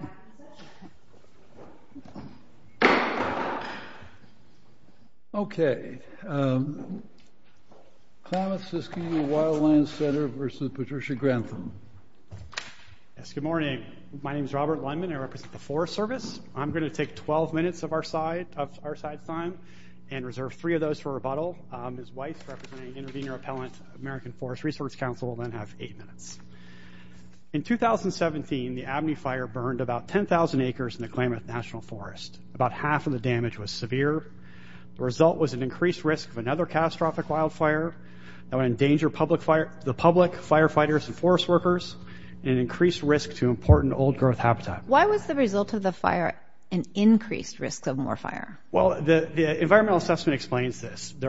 Good morning. My name is Robert Lundman. I represent the Forest Service. I'm going to take 12 minutes of our side time and reserve three of those for rebuttal. Ms. Weiss, representing Intervenor Appellant, American Forest Resource Council, will then have eight minutes. In 2017, the Abney Fire burned about 10,000 acres in the Klamath National Forest. About half of the damage was severe. The result was an increased risk of another catastrophic wildfire that would endanger the public, firefighters, and forest workers, and increased risk to important old-growth habitat. Why was the result of the fire an increased risk of more fire? Can we get to any of this? We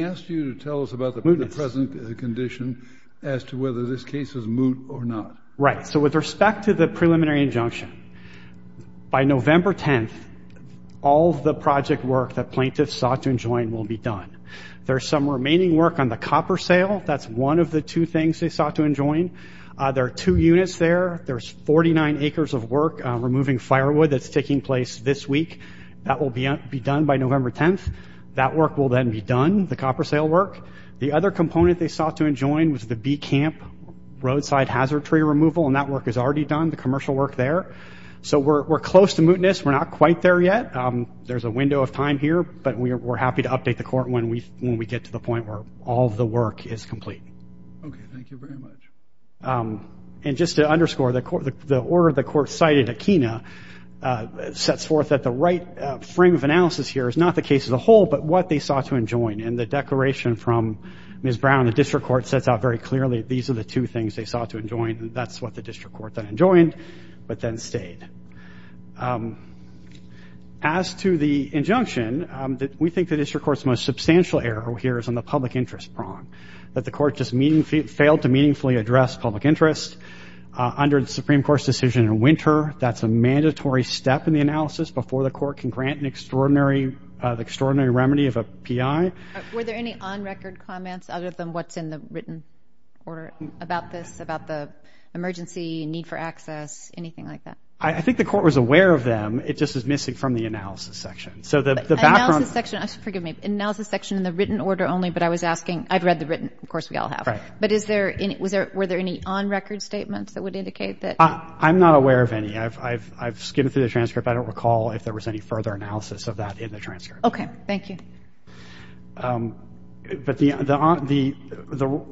asked you to tell us about the present condition as to whether this case is moot or not. Right. So with respect to the preliminary injunction, by November 10th, all of the project work that plaintiffs sought to enjoin will be done. There's some remaining work on the copper sail. That's one of the two things they sought to enjoin. There are two units there. There's 49 acres of work removing firewood that's taking place this week. That will be done by November 10th. That work will then be done, the copper sail work. The other component they sought to enjoin was the B Camp roadside hazard tree removal, and that work is already done, the commercial work there. So we're close to mootness. We're not quite there yet. There's a window of time here, but we're happy to update the court when we get to the point where all of the work is complete. Okay. Thank you very much. And just to underscore, the order the court cited at Kena sets forth that the right frame of analysis here is not the case as a whole, but what they sought to enjoin. And the declaration from Ms. Brown, the district court, sets out very clearly these are the two things they sought to enjoin. That's what the district court then enjoined, but then stayed. As to the injunction, we think the district court's most substantial error here is on the public interest prong, that the court just failed to meaningfully address public interest. Under the Supreme Court's decision in winter, that's a mandatory step in the analysis before the court can grant an extraordinary remedy of a PI. Were there any on-record comments other than what's in the written order about this, about the emergency, need for access, anything like that? I think the court was aware of them. It just was missing from the analysis section. Analysis section, forgive me. Analysis section in the written order only, but I was asking, I've read the written, of course we all have. Right. But were there any on-record statements that would indicate that? I'm not aware of any. I've skimmed through the transcript. I don't recall if there was any further analysis of that in the transcript. Okay. Thank you. But the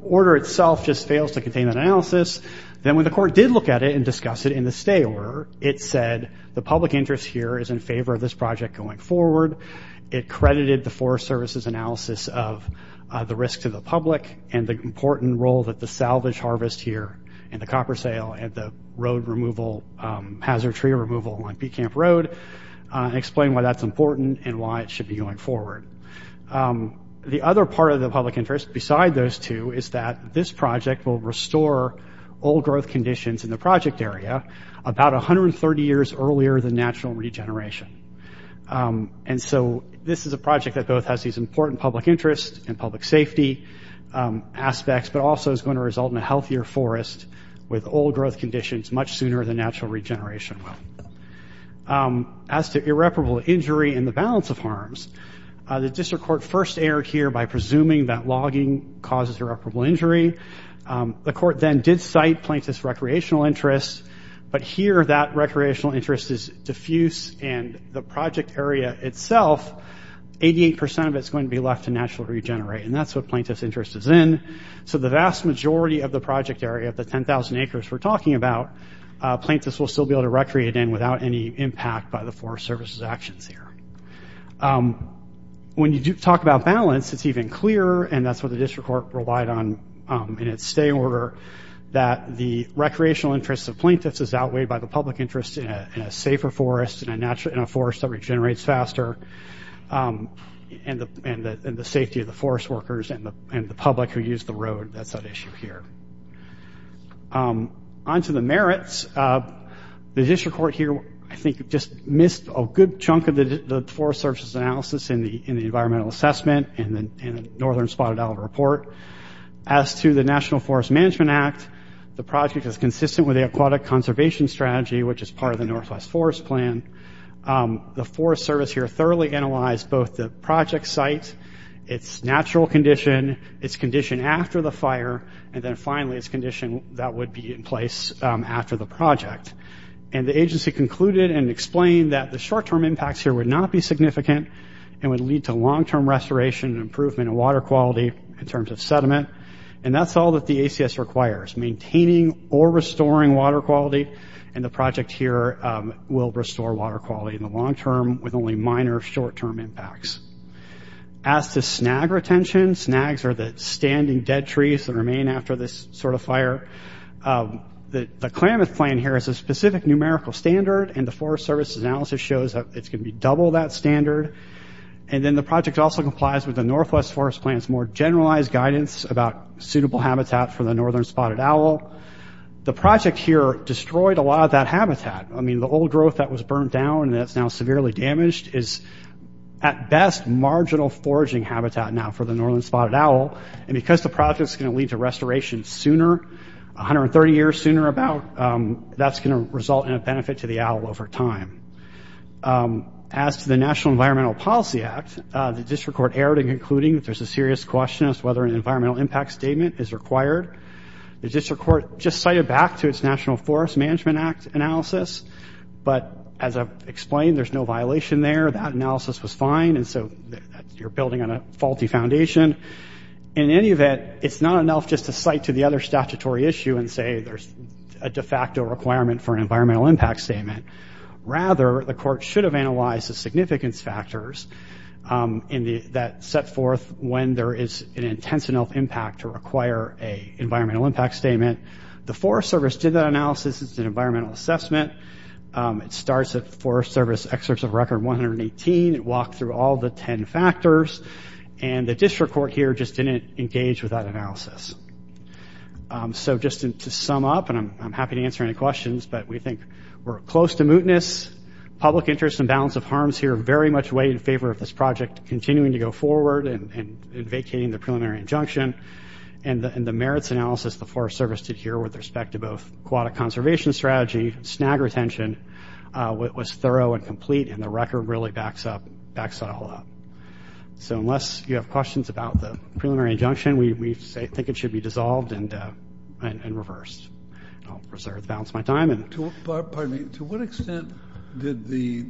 order itself just fails to contain that analysis. Then when the court did look at it and discuss it in the stay order, it said the public interest here is in favor of this project going forward. It credited the Forest Service's analysis of the risk to the public and the important role that the salvage harvest here, and the copper sale, and the hazard tree removal on Peat Camp Road, explain why that's important and why it should be going forward. The other part of the public interest beside those two is that this project will restore old growth conditions in the project area about 130 years earlier than natural regeneration. And so this is a project that both has these important public interests and public safety aspects, but also is going to result in a healthier forest with old growth conditions much sooner than natural regeneration will. As to irreparable injury and the balance of harms, the district court first erred here by presuming that logging causes irreparable injury. The court then did cite plaintiff's recreational interests, but here that recreational interest is diffuse, and the project area itself, 88% of it is going to be left to natural regenerate, and that's what plaintiff's interest is in. So the vast majority of the project area, the 10,000 acres we're talking about, plaintiff's will still be able to recreate in without any impact by the Forest Service's actions here. When you talk about balance, it's even clearer, and that's what the district court relied on in its stay order, that the recreational interests of plaintiff's is outweighed by the public interest in a safer forest, in a forest that regenerates faster, and the safety of the forest workers and the public who use the road, that's at issue here. On to the merits, the district court here, I think, just missed a good chunk of the Forest Service's analysis in the environmental assessment and the Northern Spotted Olive Report. As to the National Forest Management Act, the project is consistent with the aquatic conservation strategy, which is part of the Northwest Forest Plan. The Forest Service here thoroughly analyzed both the project site, its natural condition, its condition after the fire, and then finally its condition that would be in place after the project. And the agency concluded and explained that the short-term impacts here would not be significant, and would lead to long-term restoration and improvement in water quality in terms of sediment, and that's all that the ACS requires, maintaining or restoring water quality, and the project here will restore water quality in the long-term with only minor short-term impacts. As to snag retention, snags are the standing dead trees that remain after this sort of fire. The Klamath Plan here is a specific numerical standard, and the Forest Service's analysis shows that it's going to be double that standard. And then the project also complies with the Northwest Forest Plan's more generalized guidance about suitable habitat for the Northern Spotted Owl. The project here destroyed a lot of that habitat. I mean, the old growth that was burnt down and that's now severely damaged is at best marginal foraging habitat now for the Northern Spotted Owl, and because the project's going to lead to restoration sooner, 130 years sooner about, that's going to result in a benefit to the owl over time. As to the National Environmental Policy Act, the district court erred in concluding that there's a serious question as to whether an environmental impact statement is required. The district court just cited back to its National Forest Management Act analysis, but as I've explained, there's no violation there. That analysis was fine, and so you're building on a faulty foundation. In any event, it's not enough just to cite to the other statutory issue and say there's a de facto requirement for an environmental impact statement. Rather, the court should have analyzed the significance factors that set forth when there is an intense enough impact to require an environmental impact statement. The Forest Service did that analysis. It's an environmental assessment. It starts at Forest Service excerpts of record 118. It walked through all the 10 factors, and the district court here just didn't engage with that analysis. So just to sum up, and I'm happy to answer any questions, but we think we're close to mootness. Public interest and balance of harms here very much weigh in favor of this project continuing to go forward and vacating the preliminary injunction. And the merits analysis the Forest Service did here with respect to both aquatic conservation strategy, snag retention, was thorough and complete, and the record really backs that all up. So unless you have questions about the preliminary injunction, we think it should be dissolved and reversed. I'll reserve the balance of my time. To what extent did the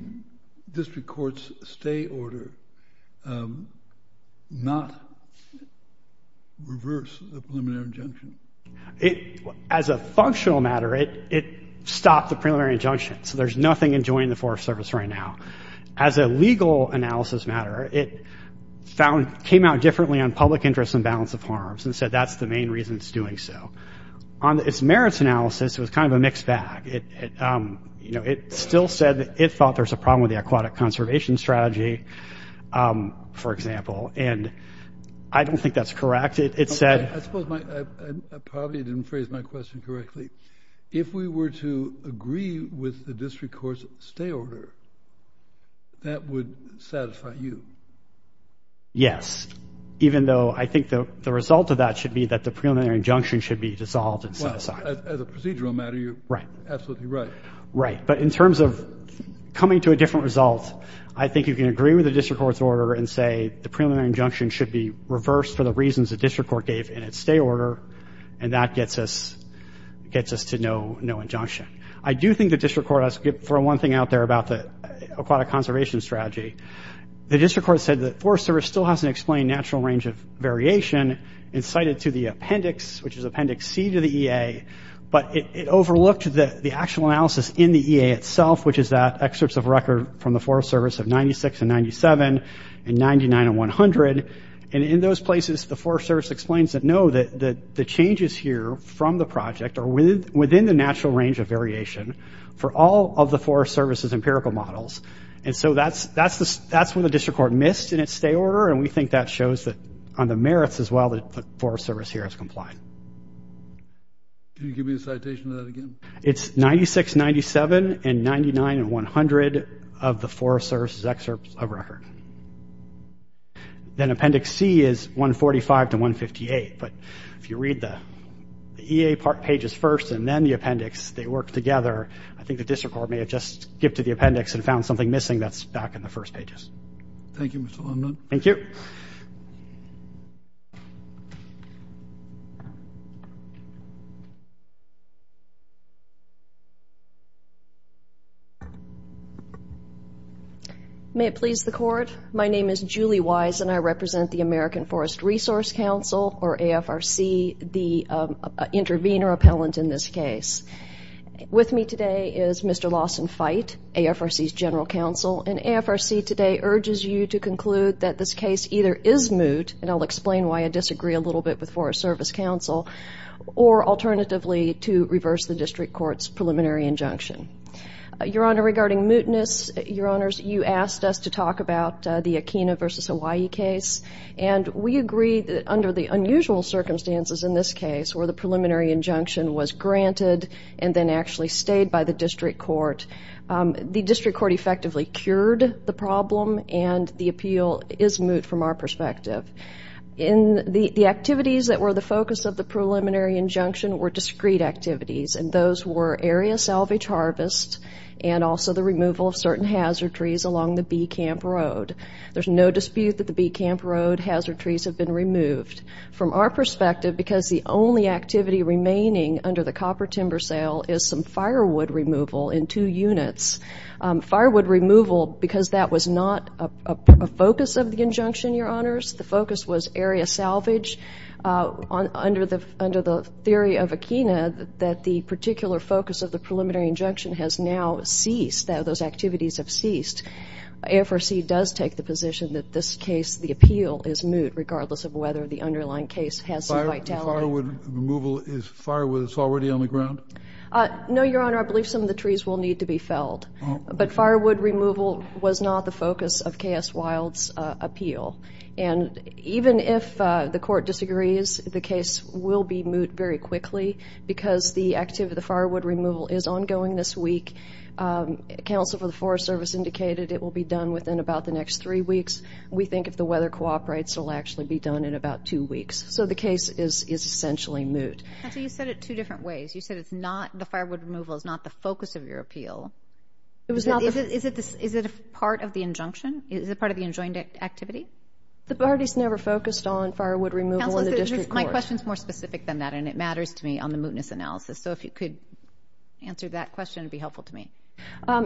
district court's stay order not reverse the preliminary injunction? As a functional matter, it stopped the preliminary injunction, so there's nothing enjoining the Forest Service right now. As a legal analysis matter, it came out differently on public interest and balance of harms and said that's the main reason it's doing so. On its merits analysis, it was kind of a mixed bag. It still said it thought there's a problem with the aquatic conservation strategy, for example, and I don't think that's correct. I suppose I probably didn't phrase my question correctly. If we were to agree with the district court's stay order, that would satisfy you? Yes, even though I think the result of that should be that the preliminary injunction should be dissolved and set aside. Well, as a procedural matter, you're absolutely right. Right, but in terms of coming to a different result, I think you can agree with the district court's order and say the preliminary injunction should be reversed for the reasons the district court gave in its stay order, and that gets us to no injunction. I do think the district court has to throw one thing out there about the aquatic conservation strategy. The district court said the Forest Service still hasn't explained natural range of variation and cited to the appendix, which is appendix C to the EA, but it overlooked the actual analysis in the EA itself, which is that excerpts of record from the Forest Service of 96 and 97 and 99 and 100. In those places, the Forest Service explains that no, the changes here from the project are within the natural range of variation for all of the Forest Service's empirical models. And so that's what the district court missed in its stay order, and we think that shows that on the merits as well that the Forest Service here has complied. Can you give me the citation of that again? It's 96, 97 and 99 and 100 of the Forest Service's excerpts of record. Then appendix C is 145 to 158, but if you read the EA pages first and then the appendix, they work together, I think the district court may have just skipped to the appendix and found something missing that's back in the first pages. Thank you, Mr. Leibniz. Thank you. May it please the Court, my name is Julie Wise, and I represent the American Forest Resource Council, or AFRC, the intervener appellant in this case. With me today is Mr. Lawson Fite, AFRC's general counsel, and AFRC today urges you to conclude that this case either is moot, and I'll explain why I disagree a little bit with Forest Service counsel, or alternatively to reverse the district court's preliminary injunction. Your Honor, regarding mootness, Your Honors, you asked us to talk about the Akeena v. Hawaii case, and we agreed that under the unusual circumstances in this case where the preliminary injunction was granted and then actually stayed by the district court, the district court effectively cured the problem, and the appeal is moot from our perspective. The activities that were the focus of the preliminary injunction were discrete activities, and those were area salvage harvest and also the removal of certain hazard trees along the Bee Camp Road. There's no dispute that the Bee Camp Road hazard trees have been removed. From our perspective, because the only activity remaining under the copper timber sale is some firewood removal in two units, firewood removal, because that was not a focus of the injunction, Your Honors, the focus was area salvage under the theory of Akeena that the particular focus of the preliminary injunction has now ceased, those activities have ceased. AFRC does take the position that this case, the appeal is moot, regardless of whether the underlying case has some vitality. The firewood removal is firewood that's already on the ground? No, Your Honor. I believe some of the trees will need to be felled, but firewood removal was not the focus of K.S. Wild's appeal. And even if the court disagrees, the case will be moot very quickly because the firewood removal is ongoing this week. Counsel for the Forest Service indicated it will be done within about the next three weeks. We think if the weather cooperates, it will actually be done in about two weeks. So the case is essentially moot. Counsel, you said it two different ways. You said it's not the firewood removal is not the focus of your appeal. Is it a part of the injunction? Is it part of the enjoined activity? The parties never focused on firewood removal in the district court. Counsel, my question is more specific than that, and it matters to me on the mootness analysis. So if you could answer that question, it would be helpful to me.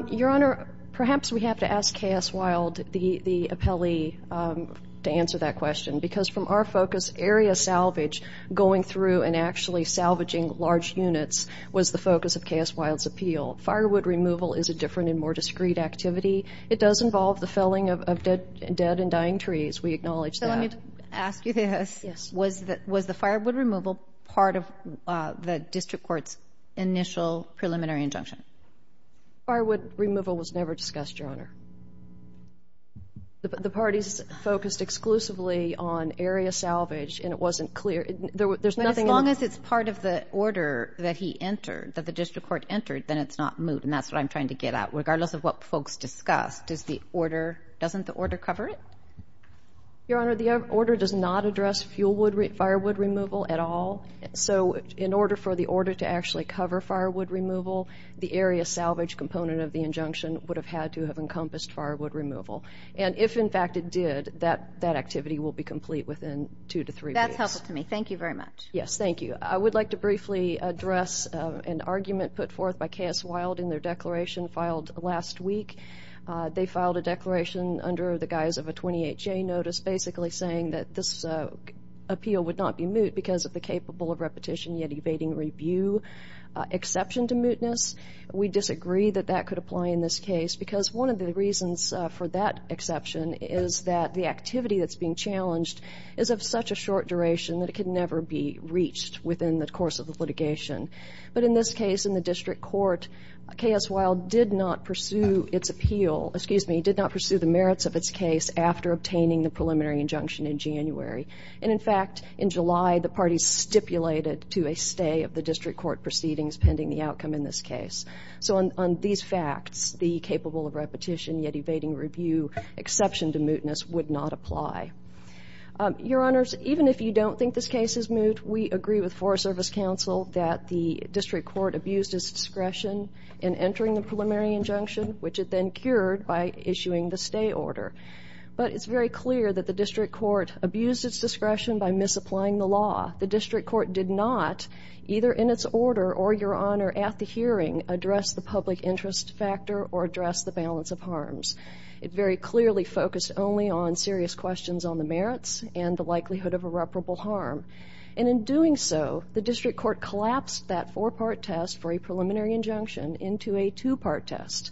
Your Honor, perhaps we have to ask K.S. Wild, the appellee, to answer that question, because from our focus, area salvage, going through and actually salvaging large units, was the focus of K.S. Wild's appeal. Firewood removal is a different and more discreet activity. It does involve the felling of dead and dying trees. We acknowledge that. So let me ask you this. Yes. Was the firewood removal part of the district court's initial preliminary injunction? Firewood removal was never discussed, Your Honor. The parties focused exclusively on area salvage, and it wasn't clear. As long as it's part of the order that he entered, that the district court entered, then it's not moot, and that's what I'm trying to get at. Regardless of what folks discussed, doesn't the order cover it? Your Honor, the order does not address firewood removal at all. So in order for the order to actually cover firewood removal, the area salvage component of the injunction would have had to have encompassed firewood removal. And if, in fact, it did, that activity will be complete within two to three weeks. That's helpful to me. Thank you very much. Yes, thank you. I would like to briefly address an argument put forth by K.S. Wild in their declaration filed last week. They filed a declaration under the guise of a 28-J notice, basically saying that this appeal would not be moot because of the capable of repetition yet evading review exception to mootness. We disagree that that could apply in this case because one of the reasons for that exception is that the activity that's being challenged is of such a short duration that it can never be reached within the course of the litigation. But in this case, in the district court, K.S. Wild did not pursue its appeal, excuse me, did not pursue the merits of its case after obtaining the preliminary injunction in January. And, in fact, in July, the parties stipulated to a stay of the district court proceedings pending the outcome in this case. So on these facts, the capable of repetition yet evading review exception to mootness would not apply. Your Honors, even if you don't think this case is moot, we agree with Forest Service Counsel that the district court abused its discretion in entering the preliminary injunction, which it then cured by issuing the stay order. But it's very clear that the district court abused its discretion by misapplying the law. The district court did not, either in its order or, Your Honor, at the hearing, address the public interest factor or address the balance of harms. It very clearly focused only on serious questions on the merits and the likelihood of irreparable harm. And in doing so, the district court collapsed that four-part test for a preliminary injunction into a two-part test.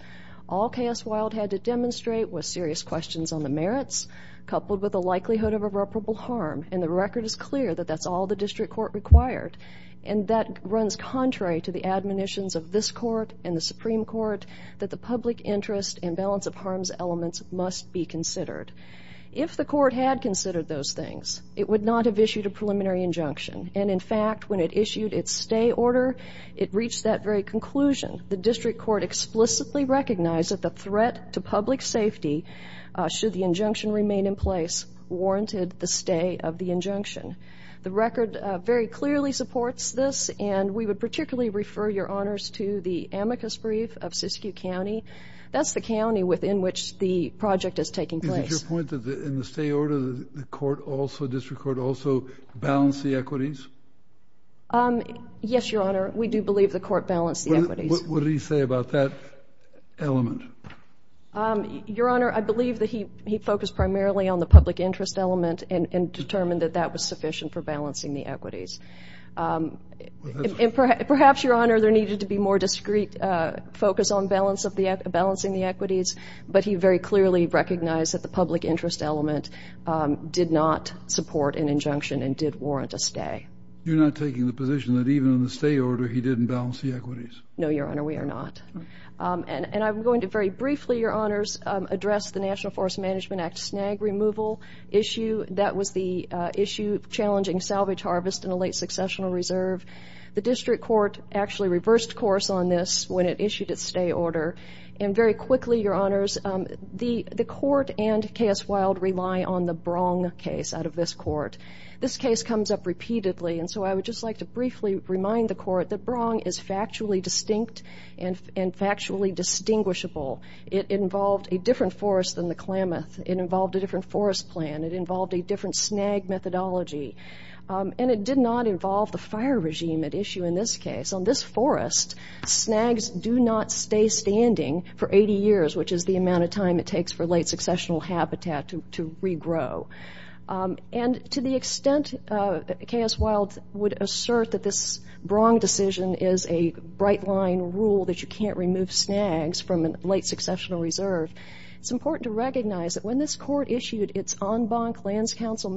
All K.S. Wild had to demonstrate was serious questions on the merits coupled with the likelihood of irreparable harm. And the record is clear that that's all the district court required. And that runs contrary to the admonitions of this court and the Supreme Court that the public interest and balance of harms elements must be considered. If the court had considered those things, it would not have issued a preliminary injunction. And, in fact, when it issued its stay order, it reached that very conclusion. The district court explicitly recognized that the threat to public safety, should the injunction remain in place, warranted the stay of the injunction. The record very clearly supports this, and we would particularly refer Your Honors to the amicus brief of Siskiyou County. That's the county within which the project is taking place. Is it your point that in the stay order the court also, district court also, balanced the equities? Yes, Your Honor. We do believe the court balanced the equities. What did he say about that element? Your Honor, I believe that he focused primarily on the public interest element and determined that that was sufficient for balancing the equities. Perhaps, Your Honor, there needed to be more discreet focus on balancing the equities, but he very clearly recognized that the public interest element did not support an injunction and did warrant a stay. You're not taking the position that even in the stay order he didn't balance the equities? No, Your Honor, we are not. And I'm going to very briefly, Your Honors, address the National Forest Management Act snag removal issue. That was the issue challenging salvage harvest in a late successional reserve. The district court actually reversed course on this when it issued its stay order. And very quickly, Your Honors, the court and K.S. Wilde rely on the Brong case out of this court. This case comes up repeatedly, and so I would just like to briefly remind the court that Brong is factually distinct and factually distinguishable. It involved a different forest than the Klamath. It involved a different forest plan. It involved a different snag methodology. And it did not involve the fire regime at issue in this case. On this forest, snags do not stay standing for 80 years, which is the amount of time it takes for late successional habitat to regrow. And to the extent that K.S. Wilde would assert that this Brong decision is a bright-line rule that you can't remove snags from a late successional reserve, it's important to recognize that when this court issued its en banc lands council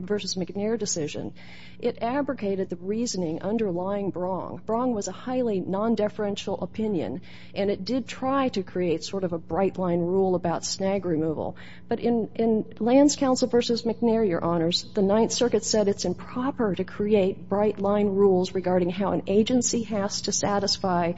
versus McNair decision, it abrogated the reasoning underlying Brong. Brong was a highly non-deferential opinion, and it did try to create sort of a bright-line rule about snag removal. But in lands council versus McNair, Your Honors, the Ninth Circuit said it's improper to create bright-line rules regarding how an agency has to satisfy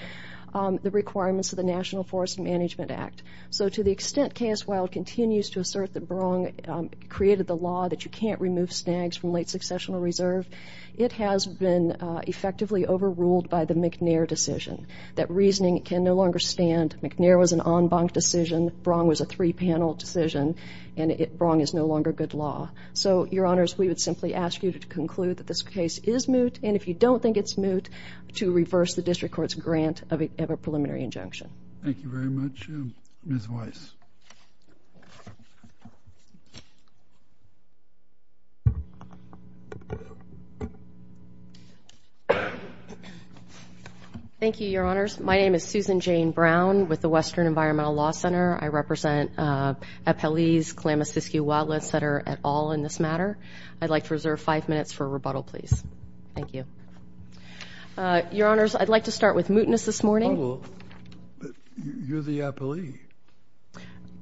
the requirements of the National Forest Management Act. So to the extent K.S. Wilde continues to assert that Brong created the law that you can't remove snags from late successional reserve, it has been effectively overruled by the McNair decision, that reasoning can no longer stand. McNair was an en banc decision. Brong was a three-panel decision. And Brong is no longer good law. So, Your Honors, we would simply ask you to conclude that this case is moot, and if you don't think it's moot, to reverse the district court's grant of a preliminary injunction. Thank you very much. Ms. Weiss. Thank you, Your Honors. My name is Susan Jane Brown with the Western Environmental Law Center. I represent Appellee's Kalamazoo Wildlands Center at all in this matter. I'd like to reserve five minutes for rebuttal, please. Thank you. Your Honors, I'd like to start with mootness this morning. Oh, you're the appellee.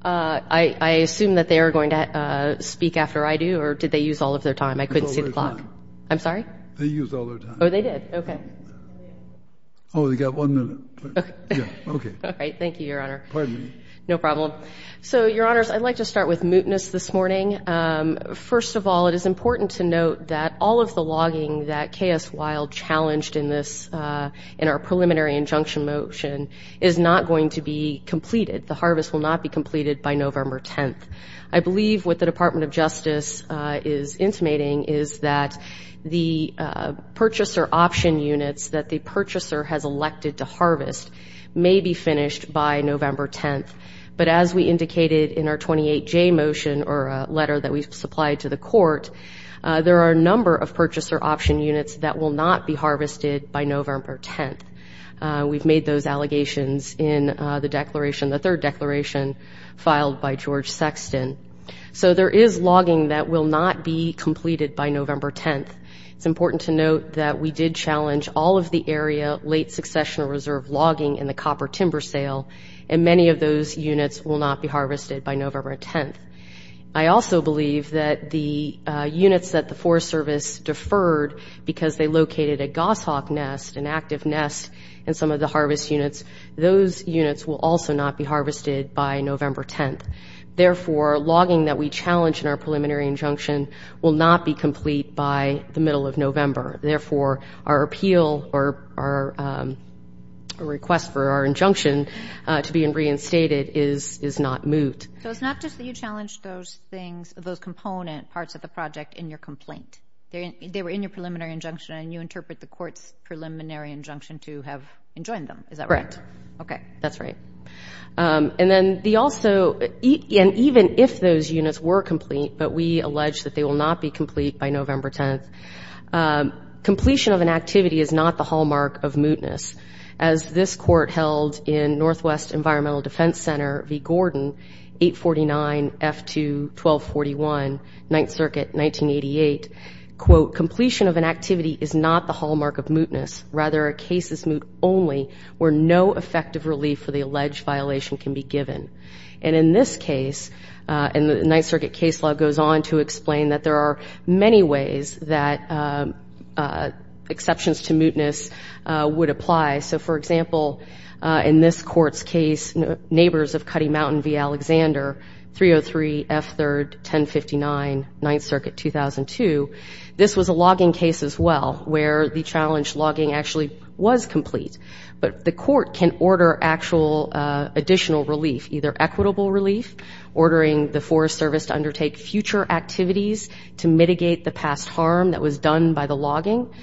I assume that they are going to speak after I do, or did they use all of their time? I couldn't see the clock. I'm sorry? They used all their time. Oh, they did. Okay. Oh, we've got one minute. Okay. All right. Thank you, Your Honor. Pardon me. No problem. So, Your Honors, I'd like to start with mootness this morning. First of all, it is important to note that all of the logging that K.S. Wild challenged in this, in our preliminary injunction motion, is not going to be completed. The harvest will not be completed by November 10th. I believe what the Department of Justice is intimating is that the purchaser option units that the purchaser has elected to harvest may be finished by November 10th. But as we indicated in our 28J motion, or a letter that we supplied to the court, there are a number of purchaser option units that will not be harvested by November 10th. We've made those allegations in the third declaration filed by George Sexton. So there is logging that will not be completed by November 10th. It's important to note that we did challenge all of the area late succession reserve logging in the copper timber sale, and many of those units will not be harvested by November 10th. I also believe that the units that the Forest Service deferred because they located a goshawk nest, an active nest, in some of the harvest units, those units will also not be harvested by November 10th. Therefore, logging that we challenged in our preliminary injunction will not be complete by the middle of November. Therefore, our appeal or our request for our injunction to be reinstated is not moot. So it's not just that you challenged those things, those component parts of the project in your complaint. They were in your preliminary injunction, and you interpret the court's preliminary injunction to have enjoined them. Is that right? Correct. Okay. That's right. And even if those units were complete, but we allege that they will not be complete by November 10th, completion of an activity is not the hallmark of mootness. As this court held in Northwest Environmental Defense Center v. Gordon, 849F2-1241, 9th Circuit, 1988, quote, completion of an activity is not the hallmark of mootness. Rather, a case is moot only where no effective relief for the alleged violation can be given. And in this case, and the 9th Circuit case law goes on to explain that there are many ways that exceptions to mootness would apply. So, for example, in this court's case, neighbors of Cutty Mountain v. Alexander, 303F3-1059, 9th Circuit, 2002, this was a logging case as well where the challenge logging actually was complete. But the court can order actual additional relief, either equitable relief, ordering the Forest Service to undertake future activities to mitigate the past harm that was done by the logging.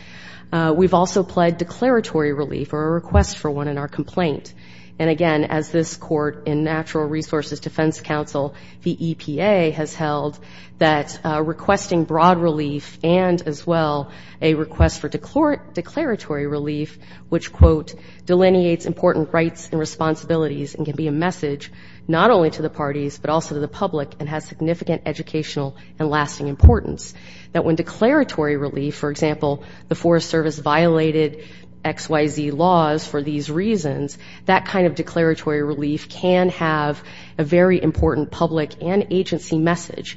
We've also pled declaratory relief or a request for one in our complaint. And, again, as this court in Natural Resources Defense Council v. EPA has held, that requesting broad relief and, as well, a request for declaratory relief, which, quote, delineates important rights and responsibilities and can be a message not only to the parties, but also to the public and has significant educational and lasting importance. That when declaratory relief, for example, the Forest Service violated XYZ laws for these reasons, that kind of declaratory relief can have a very important public and agency message.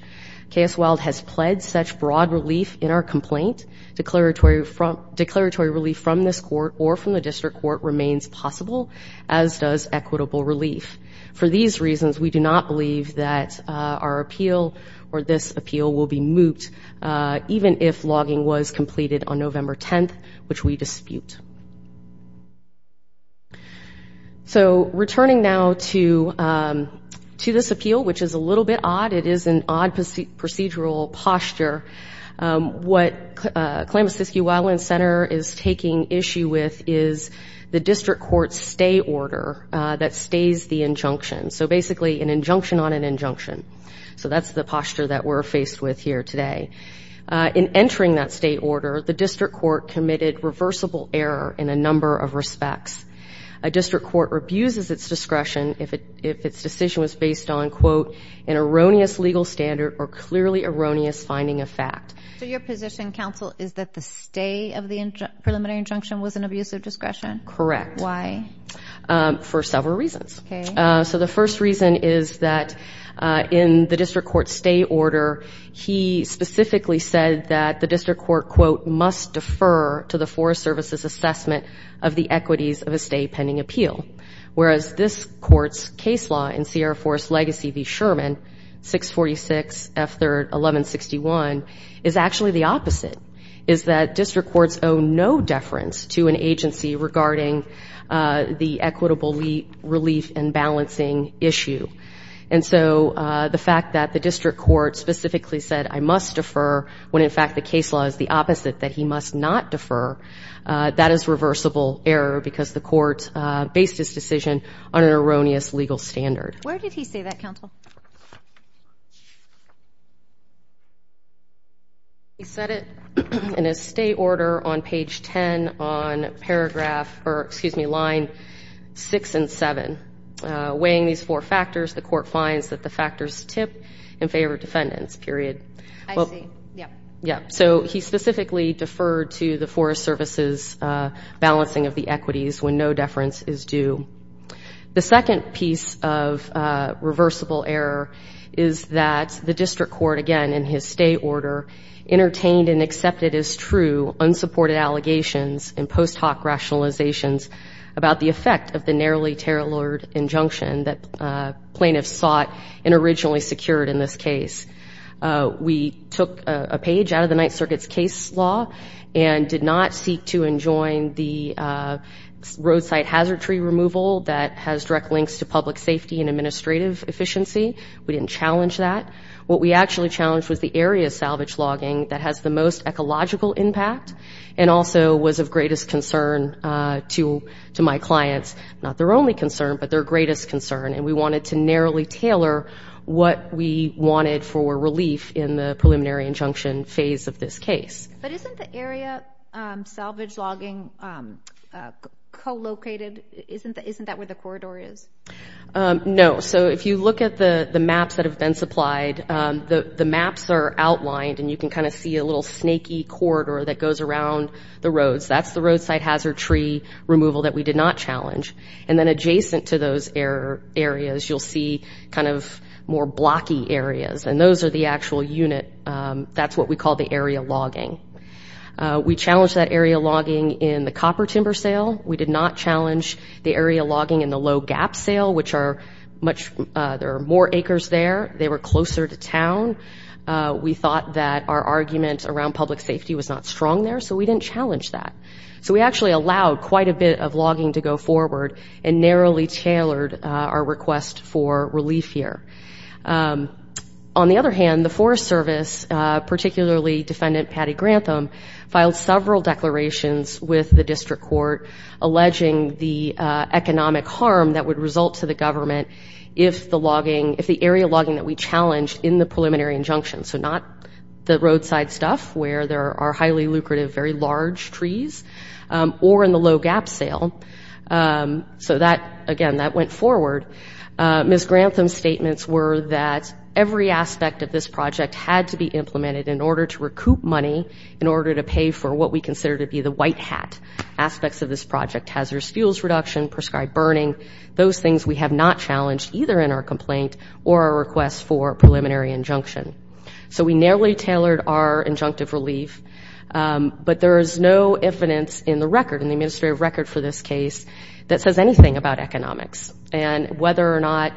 KS Wilde has pled such broad relief in our complaint. Declaratory relief from this court or from the district court remains possible, as does equitable relief. For these reasons, we do not believe that our appeal or this appeal will be moot, even if logging was completed on November 10th, which we dispute. So returning now to this appeal, which is a little bit odd, it is an odd procedural posture. What Klamasiski-Wildland Center is taking issue with is the district court's stay order that stays the injunction, so basically an injunction on an injunction. So that's the posture that we're faced with here today. In entering that stay order, the district court committed reversible error in a number of respects. A district court rebuses its discretion if its decision was based on, quote, an erroneous legal standard or clearly erroneous finding of fact. So your position, counsel, is that the stay of the preliminary injunction was an abusive discretion? Correct. Why? For several reasons. Okay. So the first reason is that in the district court's stay order, he specifically said that the district court, quote, must defer to the Forest Service's assessment of the equities of a stay pending appeal, whereas this court's case law in Sierra Forest Legacy v. Sherman, 646 F3rd 1161, is actually the opposite, is that district courts owe no deference to an agency regarding the equitable relief and balancing issue. And so the fact that the district court specifically said, I must defer, when in fact the case law is the opposite, that he must not defer, that is reversible error because the court based his decision on an erroneous legal standard. Where did he say that, counsel? He said it in his stay order on page 10 on paragraph or, excuse me, line 6 and 7. Weighing these four factors, the court finds that the factors tip in favor of defendants, period. I see. Yeah. Yeah. So he specifically deferred to the Forest Service's balancing of the equities when no deference is due. The second piece of reversible error is that the district court, again, in his stay order, entertained and accepted as true unsupported allegations and post hoc rationalizations about the effect of the narrowly tailored injunction that plaintiffs sought and originally secured in this case. We took a page out of the Ninth Circuit's case law and did not seek to enjoin the roadside hazard tree removal that has direct links to public safety and administrative efficiency. We didn't challenge that. What we actually challenged was the area salvage logging that has the most ecological impact and also was of greatest concern to my clients. Not their only concern, but their greatest concern. And we wanted to narrowly tailor what we wanted for relief in the preliminary injunction phase of this case. But isn't the area salvage logging co-located? Isn't that where the corridor is? No. So if you look at the maps that have been supplied, the maps are outlined, and you can kind of see a little snaky corridor that goes around the roads. That's the roadside hazard tree removal that we did not challenge. And then adjacent to those areas, you'll see kind of more blocky areas, and those are the actual unit. That's what we call the area logging. We challenged that area logging in the copper timber sale. We did not challenge the area logging in the low gap sale, which are much more acres there. They were closer to town. We thought that our argument around public safety was not strong there, so we didn't challenge that. So we actually allowed quite a bit of logging to go forward and narrowly tailored our request for relief here. On the other hand, the Forest Service, particularly Defendant Patty Grantham, filed several declarations with the district court alleging the economic harm that would result to the government if the area logging that we challenged in the preliminary injunction, so not the roadside stuff where there are highly lucrative, very large trees, or in the low gap sale. So that, again, that went forward. Ms. Grantham's statements were that every aspect of this project had to be implemented in order to recoup money in order to pay for what we consider to be the white hat aspects of this project, hazardous fuels reduction, prescribed burning. Those things we have not challenged either in our complaint or our request for preliminary injunction. So we narrowly tailored our injunctive relief, but there is no evidence in the record, in the administrative record for this case, that says anything about economics and whether or not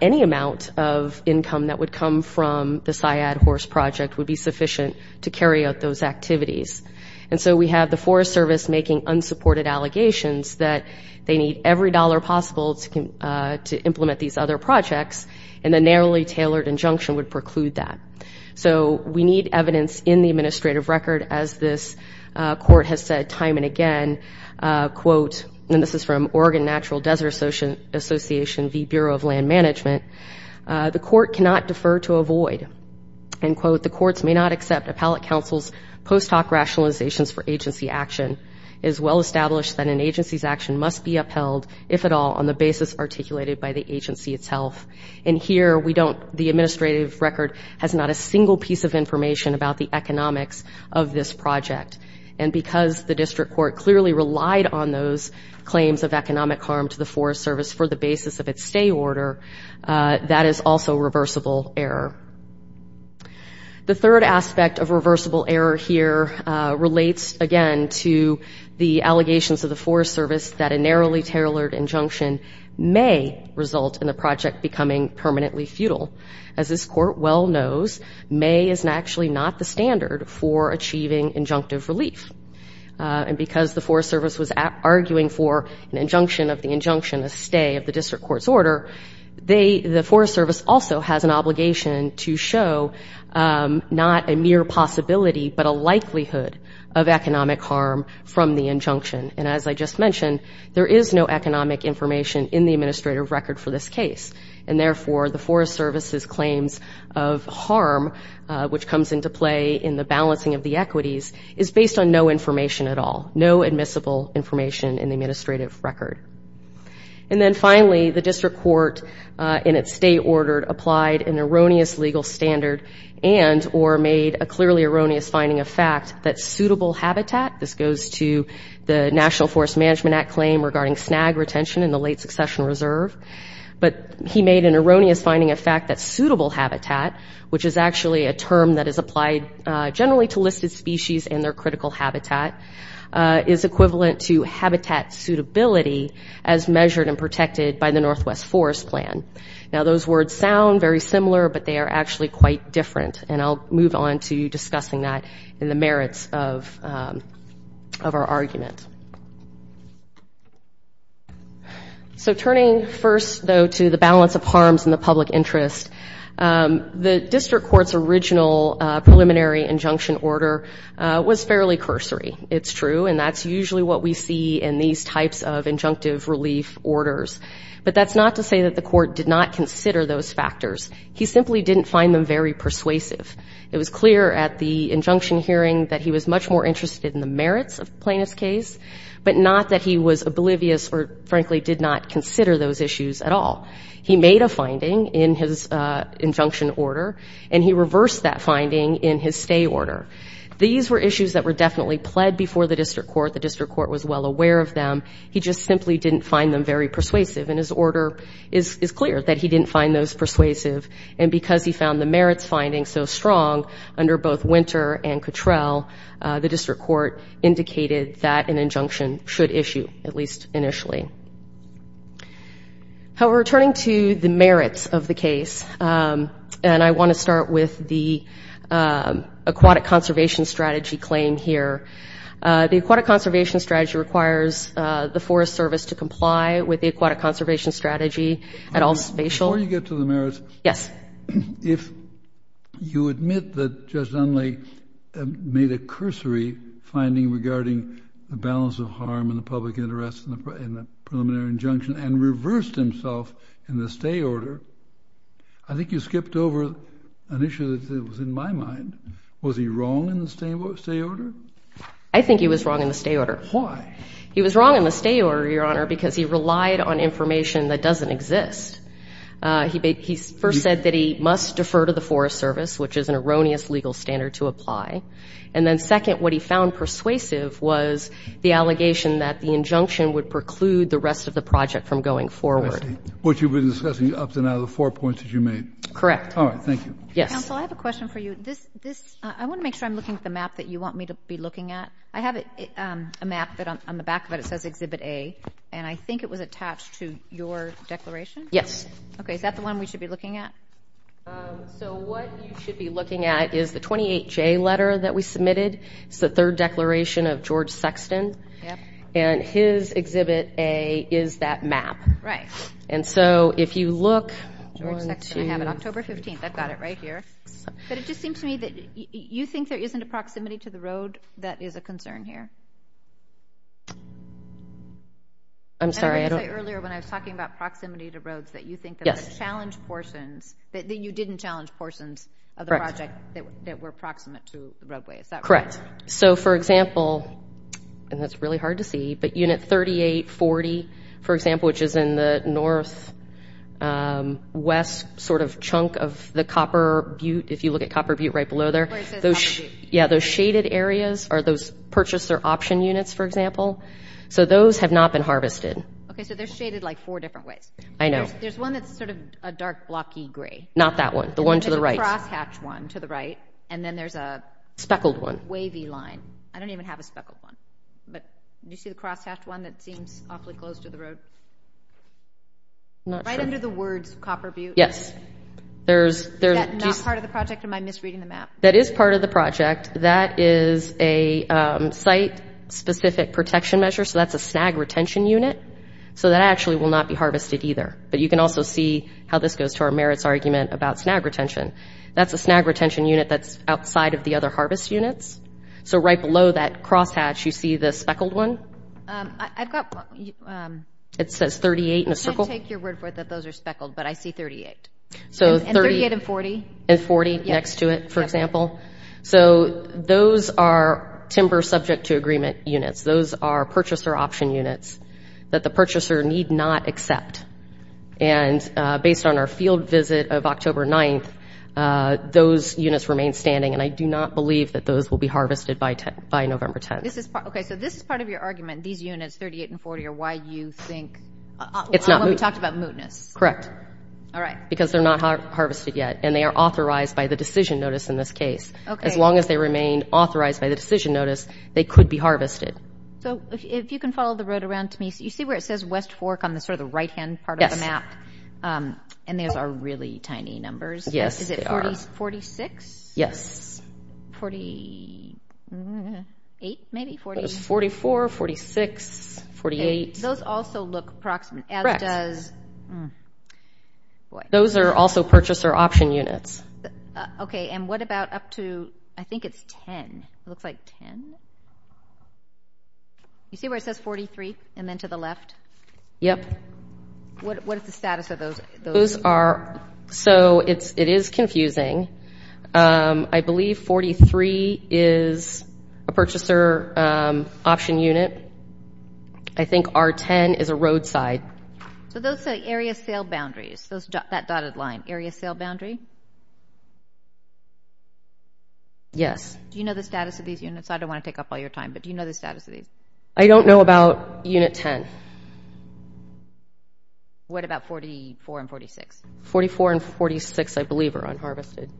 any amount of income that would come from the Syad horse project would be sufficient to carry out those activities. And so we have the Forest Service making unsupported allegations that they need every dollar possible to implement these other projects, and the narrowly tailored injunction would preclude that. So we need evidence in the administrative record, as this court has said time and again, quote, and this is from Oregon Natural Desert Association v. Bureau of Land Management, the court cannot defer to avoid, end quote, the courts may not accept appellate counsel's post hoc rationalizations for agency action. It is well established that an agency's action must be upheld, if at all, on the basis articulated by the agency itself. And here we don't, the administrative record has not a single piece of information about the economics of this project. And because the district court clearly relied on those claims of economic harm to the Forest Service for the basis of its stay order, that is also reversible error. The third aspect of reversible error here relates, again, to the allegations of the Forest Service that a narrowly tailored injunction may result in the project becoming permanently futile. As this court well knows, may is actually not the standard for achieving injunctive relief. And because the Forest Service was arguing for an injunction of the injunction, a stay of the district court's order, the Forest Service also has an obligation to show not a mere possibility, but a likelihood of economic harm from the injunction. And as I just mentioned, there is no economic information in the administrative record for this case. And therefore, the Forest Service's claims of harm, which comes into play in the balancing of the equities, is based on no information at all, no admissible information in the administrative record. And then finally, the district court in its stay order applied an erroneous legal standard and or made a clearly erroneous finding of fact that suitable habitat, this goes to the National Forest Management Act claim regarding snag retention in the late succession reserve, but he made an erroneous finding of fact that suitable habitat, which is actually a term that is applied generally to listed species and their critical habitat, is equivalent to habitat suitability as measured and protected by the Northwest Forest Plan. Now, those words sound very similar, but they are actually quite different. And I'll move on to discussing that in the merits of our argument. So turning first, though, to the balance of harms in the public interest, the district court's original preliminary injunction order was fairly cursory. It's true, and that's usually what we see in these types of injunctive relief orders. But that's not to say that the court did not consider those factors. He simply didn't find them very persuasive. It was clear at the injunction hearing that he was much more interested in the merits of the plaintiff's case but not that he was oblivious or, frankly, did not consider those issues at all. He made a finding in his injunction order, and he reversed that finding in his stay order. These were issues that were definitely pled before the district court. The district court was well aware of them. He just simply didn't find them very persuasive, and his order is clear that he didn't find those persuasive. And because he found the merits findings so strong under both Winter and Cottrell, the district court indicated that an injunction should issue, at least initially. Returning to the merits of the case, and I want to start with the aquatic conservation strategy claim here. The aquatic conservation strategy requires the Forest Service to comply with the aquatic conservation strategy at all spatial. Before you get to the merits, if you admit that Judge Dunley made a cursory finding regarding the balance of harm and the public interest in the preliminary injunction and reversed himself in the stay order, I think you skipped over an issue that was in my mind. Was he wrong in the stay order? I think he was wrong in the stay order. Why? He was wrong in the stay order, Your Honor, because he relied on information that doesn't exist. He first said that he must defer to the Forest Service, which is an erroneous legal standard to apply. And then second, what he found persuasive was the allegation that the injunction would preclude the rest of the project from going forward. I see. Which you've been discussing up to now, the four points that you made. Correct. All right. Thank you. Yes. Counsel, I have a question for you. I want to make sure I'm looking at the map that you want me to be looking at. I have a map that on the back of it it says Exhibit A, and I think it was attached to your declaration? Yes. Okay. Is that the one we should be looking at? So what you should be looking at is the 28J letter that we submitted. It's the third declaration of George Sexton. Yep. And his Exhibit A is that map. Right. And so if you look, one, two. George Sexton, I have it October 15th. I've got it right here. But it just seems to me that you think there isn't a proximity to the road that is a concern here? I'm sorry, I don't. And I would say earlier when I was talking about proximity to roads that you think there were challenge portions, that you didn't challenge portions of the project that were proximate to the roadway. Is that right? Correct. So, for example, and that's really hard to see, but Unit 3840, for example, which is in the northwest sort of chunk of the Copper Butte, if you look at Copper Butte right below there. Where it says Copper Butte. Yeah. Those shaded areas are those purchaser option units, for example. So those have not been harvested. Okay. So they're shaded like four different ways. I know. There's one that's sort of a dark blocky gray. Not that one. The one to the right. There's a crosshatch one to the right. And then there's a wavy line. Speckled one. I don't even have a speckled one. Do you see the crosshatch one that seems awfully close to the road? Not sure. Right under the words Copper Butte. Yes. Is that not part of the project? Am I misreading the map? That is part of the project. That is a site-specific protection measure. So that's a snag retention unit. So that actually will not be harvested either. But you can also see how this goes to our merits argument about snag retention. That's a snag retention unit that's outside of the other harvest units. So right below that crosshatch, you see the speckled one? I've got one. It says 38 in a circle. I can't take your word for it that those are speckled, but I see 38. And 38 and 40. And 40 next to it, for example. So those are timber subject to agreement units. Those are purchaser option units that the purchaser need not accept. And based on our field visit of October 9th, those units remain standing. And I do not believe that those will be harvested by November 10th. Okay. So this is part of your argument. These units, 38 and 40, are why you think. It's not moot. We talked about mootness. Correct. All right. Because they're not harvested yet. And they are authorized by the decision notice in this case. Okay. As long as they remain authorized by the decision notice, they could be harvested. So if you can follow the road around to me, you see where it says West Fork on sort of the right-hand part of the map? Yes. And those are really tiny numbers. Yes, they are. Is it 46? Yes. 48 maybe? It's 44, 46, 48. Those also look approximate. Correct. Those are also purchaser option units. Okay. And what about up to, I think it's 10. It looks like 10. You see where it says 43 and then to the left? Yep. What is the status of those? So it is confusing. I believe 43 is a purchaser option unit. I think R10 is a roadside. So those say area sale boundaries, that dotted line, area sale boundary? Yes. Do you know the status of these units? I don't want to take up all your time, but do you know the status of these? I don't know about unit 10. What about 44 and 46? 44 and 46, I believe, are unharvested.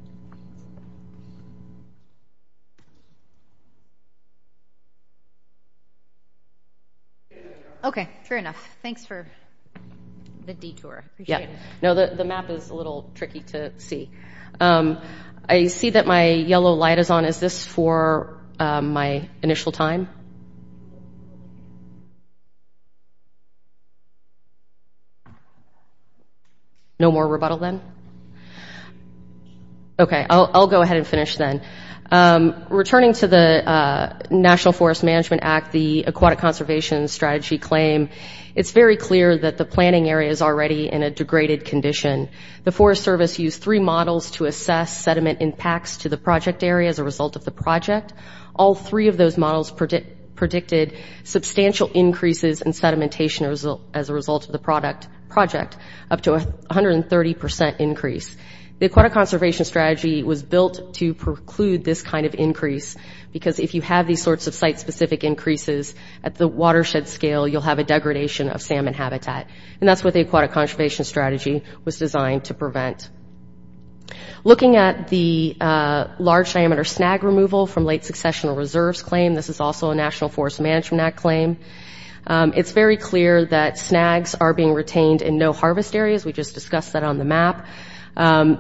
Okay. Fair enough. Thanks for the detour. Yeah. No, the map is a little tricky to see. I see that my yellow light is on. Is this for my initial time? No more rebuttal then? Okay. I'll go ahead and finish then. Returning to the National Forest Management Act, the Aquatic Conservation Strategy claim, it's very clear that the planning area is already in a degraded condition. The Forest Service used three models to assess sediment impacts to the project area as a result of the project. All three of those models predicted substantial increases in sedimentation as a result of the project, up to 130% increase. The Aquatic Conservation Strategy was built to preclude this kind of increase because if you have these sorts of site-specific increases, at the watershed scale, you'll have a degradation of salmon habitat. And that's what the Aquatic Conservation Strategy was designed to prevent. Looking at the large-diameter snag removal from late successional reserves claim, this is also a National Forest Management Act claim, it's very clear that snags are being retained in no-harvest areas. We just discussed that on the map.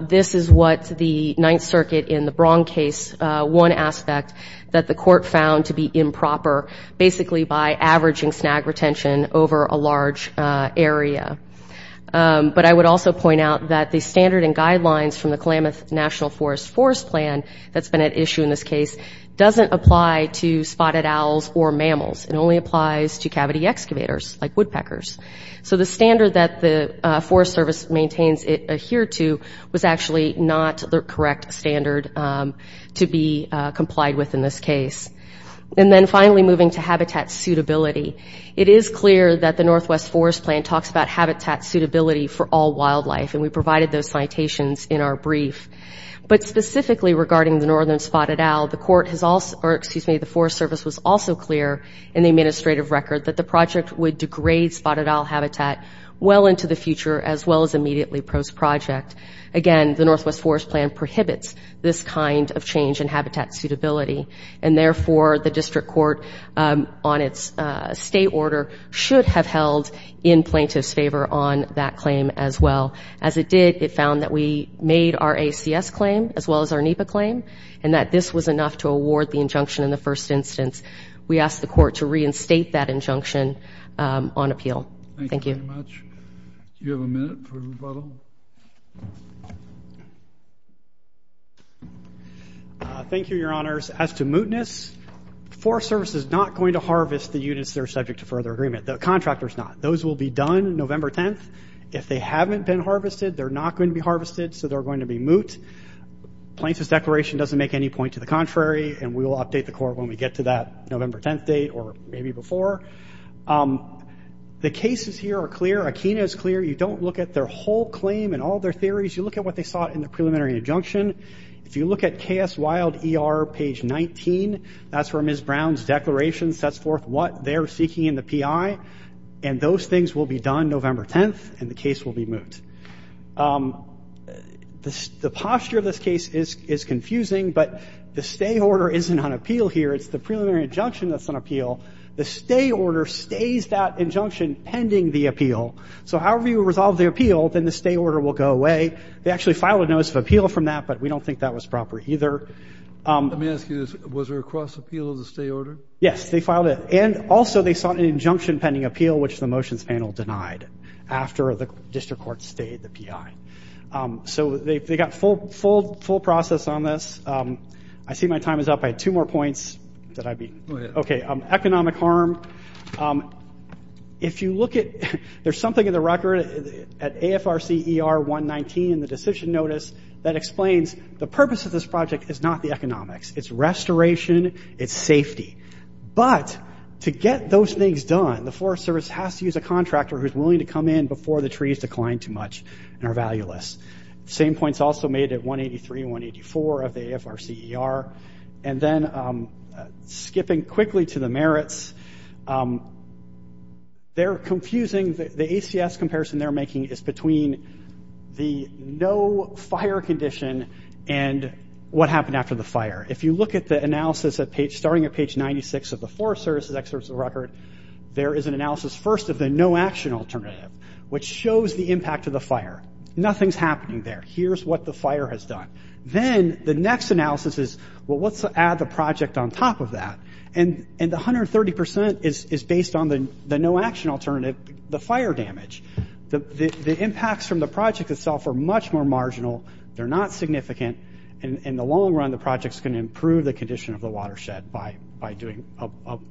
This is what the Ninth Circuit in the Braun case, one aspect that the court found to be improper, basically by averaging snag retention over a large area. But I would also point out that the standard and guidelines from the Klamath National Forest forest plan that's been at issue in this case doesn't apply to spotted owls or mammals. It only applies to cavity excavators, like woodpeckers. So the standard that the Forest Service maintains it adhere to was actually not the correct standard to be complied with in this case. And then finally, moving to habitat suitability. It is clear that the Northwest Forest Plan talks about habitat suitability for all wildlife, and we provided those citations in our brief. But specifically regarding the northern spotted owl, the Forest Service was also clear in the administrative record that the project would degrade spotted owl habitat well into the future as well as immediately post-project. Again, the Northwest Forest Plan prohibits this kind of change in habitat suitability, and therefore the district court, on its state order, should have held in plaintiff's favor on that claim as well. As it did, it found that we made our ACS claim as well as our NEPA claim, and that this was enough to award the injunction in the first instance. We asked the court to reinstate that injunction on appeal. Thank you. Thank you very much. Do you have a minute for rebuttal? Thank you, Your Honors. As to mootness, the Forest Service is not going to harvest the units that are subject to further agreement. The contractor is not. Those will be done November 10th. If they haven't been harvested, they're not going to be harvested, so they're going to be moot. Plaintiff's declaration doesn't make any point to the contrary, and we will update the court when we get to that November 10th date or maybe before. The cases here are clear. Akeena is clear. You don't look at their whole claim and all their theories. You look at what they sought in the preliminary injunction. If you look at KS Wild ER, page 19, that's where Ms. Brown's declaration sets forth what they're seeking in the PI, and those things will be done November 10th, and the case will be moot. The posture of this case is confusing, but the stay order isn't on appeal here. It's the preliminary injunction that's on appeal. The stay order stays that injunction pending the appeal. So however you resolve the appeal, then the stay order will go away. They actually filed a notice of appeal from that, but we don't think that was proper either. Let me ask you this. Was there a cross-appeal of the stay order? Yes, they filed it. And also they sought an injunction pending appeal, which the motions panel denied after the district court stayed the PI. So they got full process on this. I see my time is up. I had two more points. Did I beat? Okay. Economic harm. If you look at – there's something in the record at AFRC ER 119 in the decision notice that explains the purpose of this project is not the economics. It's restoration. It's safety. But to get those things done, the Forest Service has to use a contractor who's willing to come in before the trees decline too much and are valueless. Same points also made at 183 and 184 of the AFRC ER. And then skipping quickly to the merits, they're confusing – the ACS comparison they're making is between the no-fire condition and what happened after the fire. If you look at the analysis starting at page 96 of the Forest Service's excerpt of the record, there is an analysis first of the no-action alternative, which shows the impact of the fire. Nothing's happening there. Here's what the fire has done. Then the next analysis is, well, let's add the project on top of that. And the 130% is based on the no-action alternative, the fire damage. The impacts from the project itself are much more marginal. They're not significant. In the long run, the project's going to improve the condition of the watershed by doing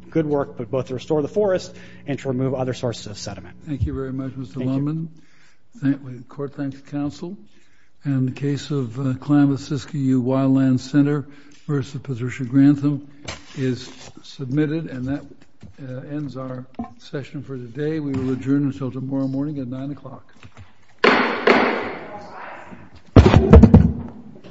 good work, but both to restore the forest and to remove other sources of sediment. Thank you very much, Mr. Lundman. Thank you. The court thanks counsel. And the case of Klamath-Siskiyou Wildland Center v. Patricia Grantham is submitted. And that ends our session for today. We will adjourn until tomorrow morning at 9 o'clock. Court is adjourned.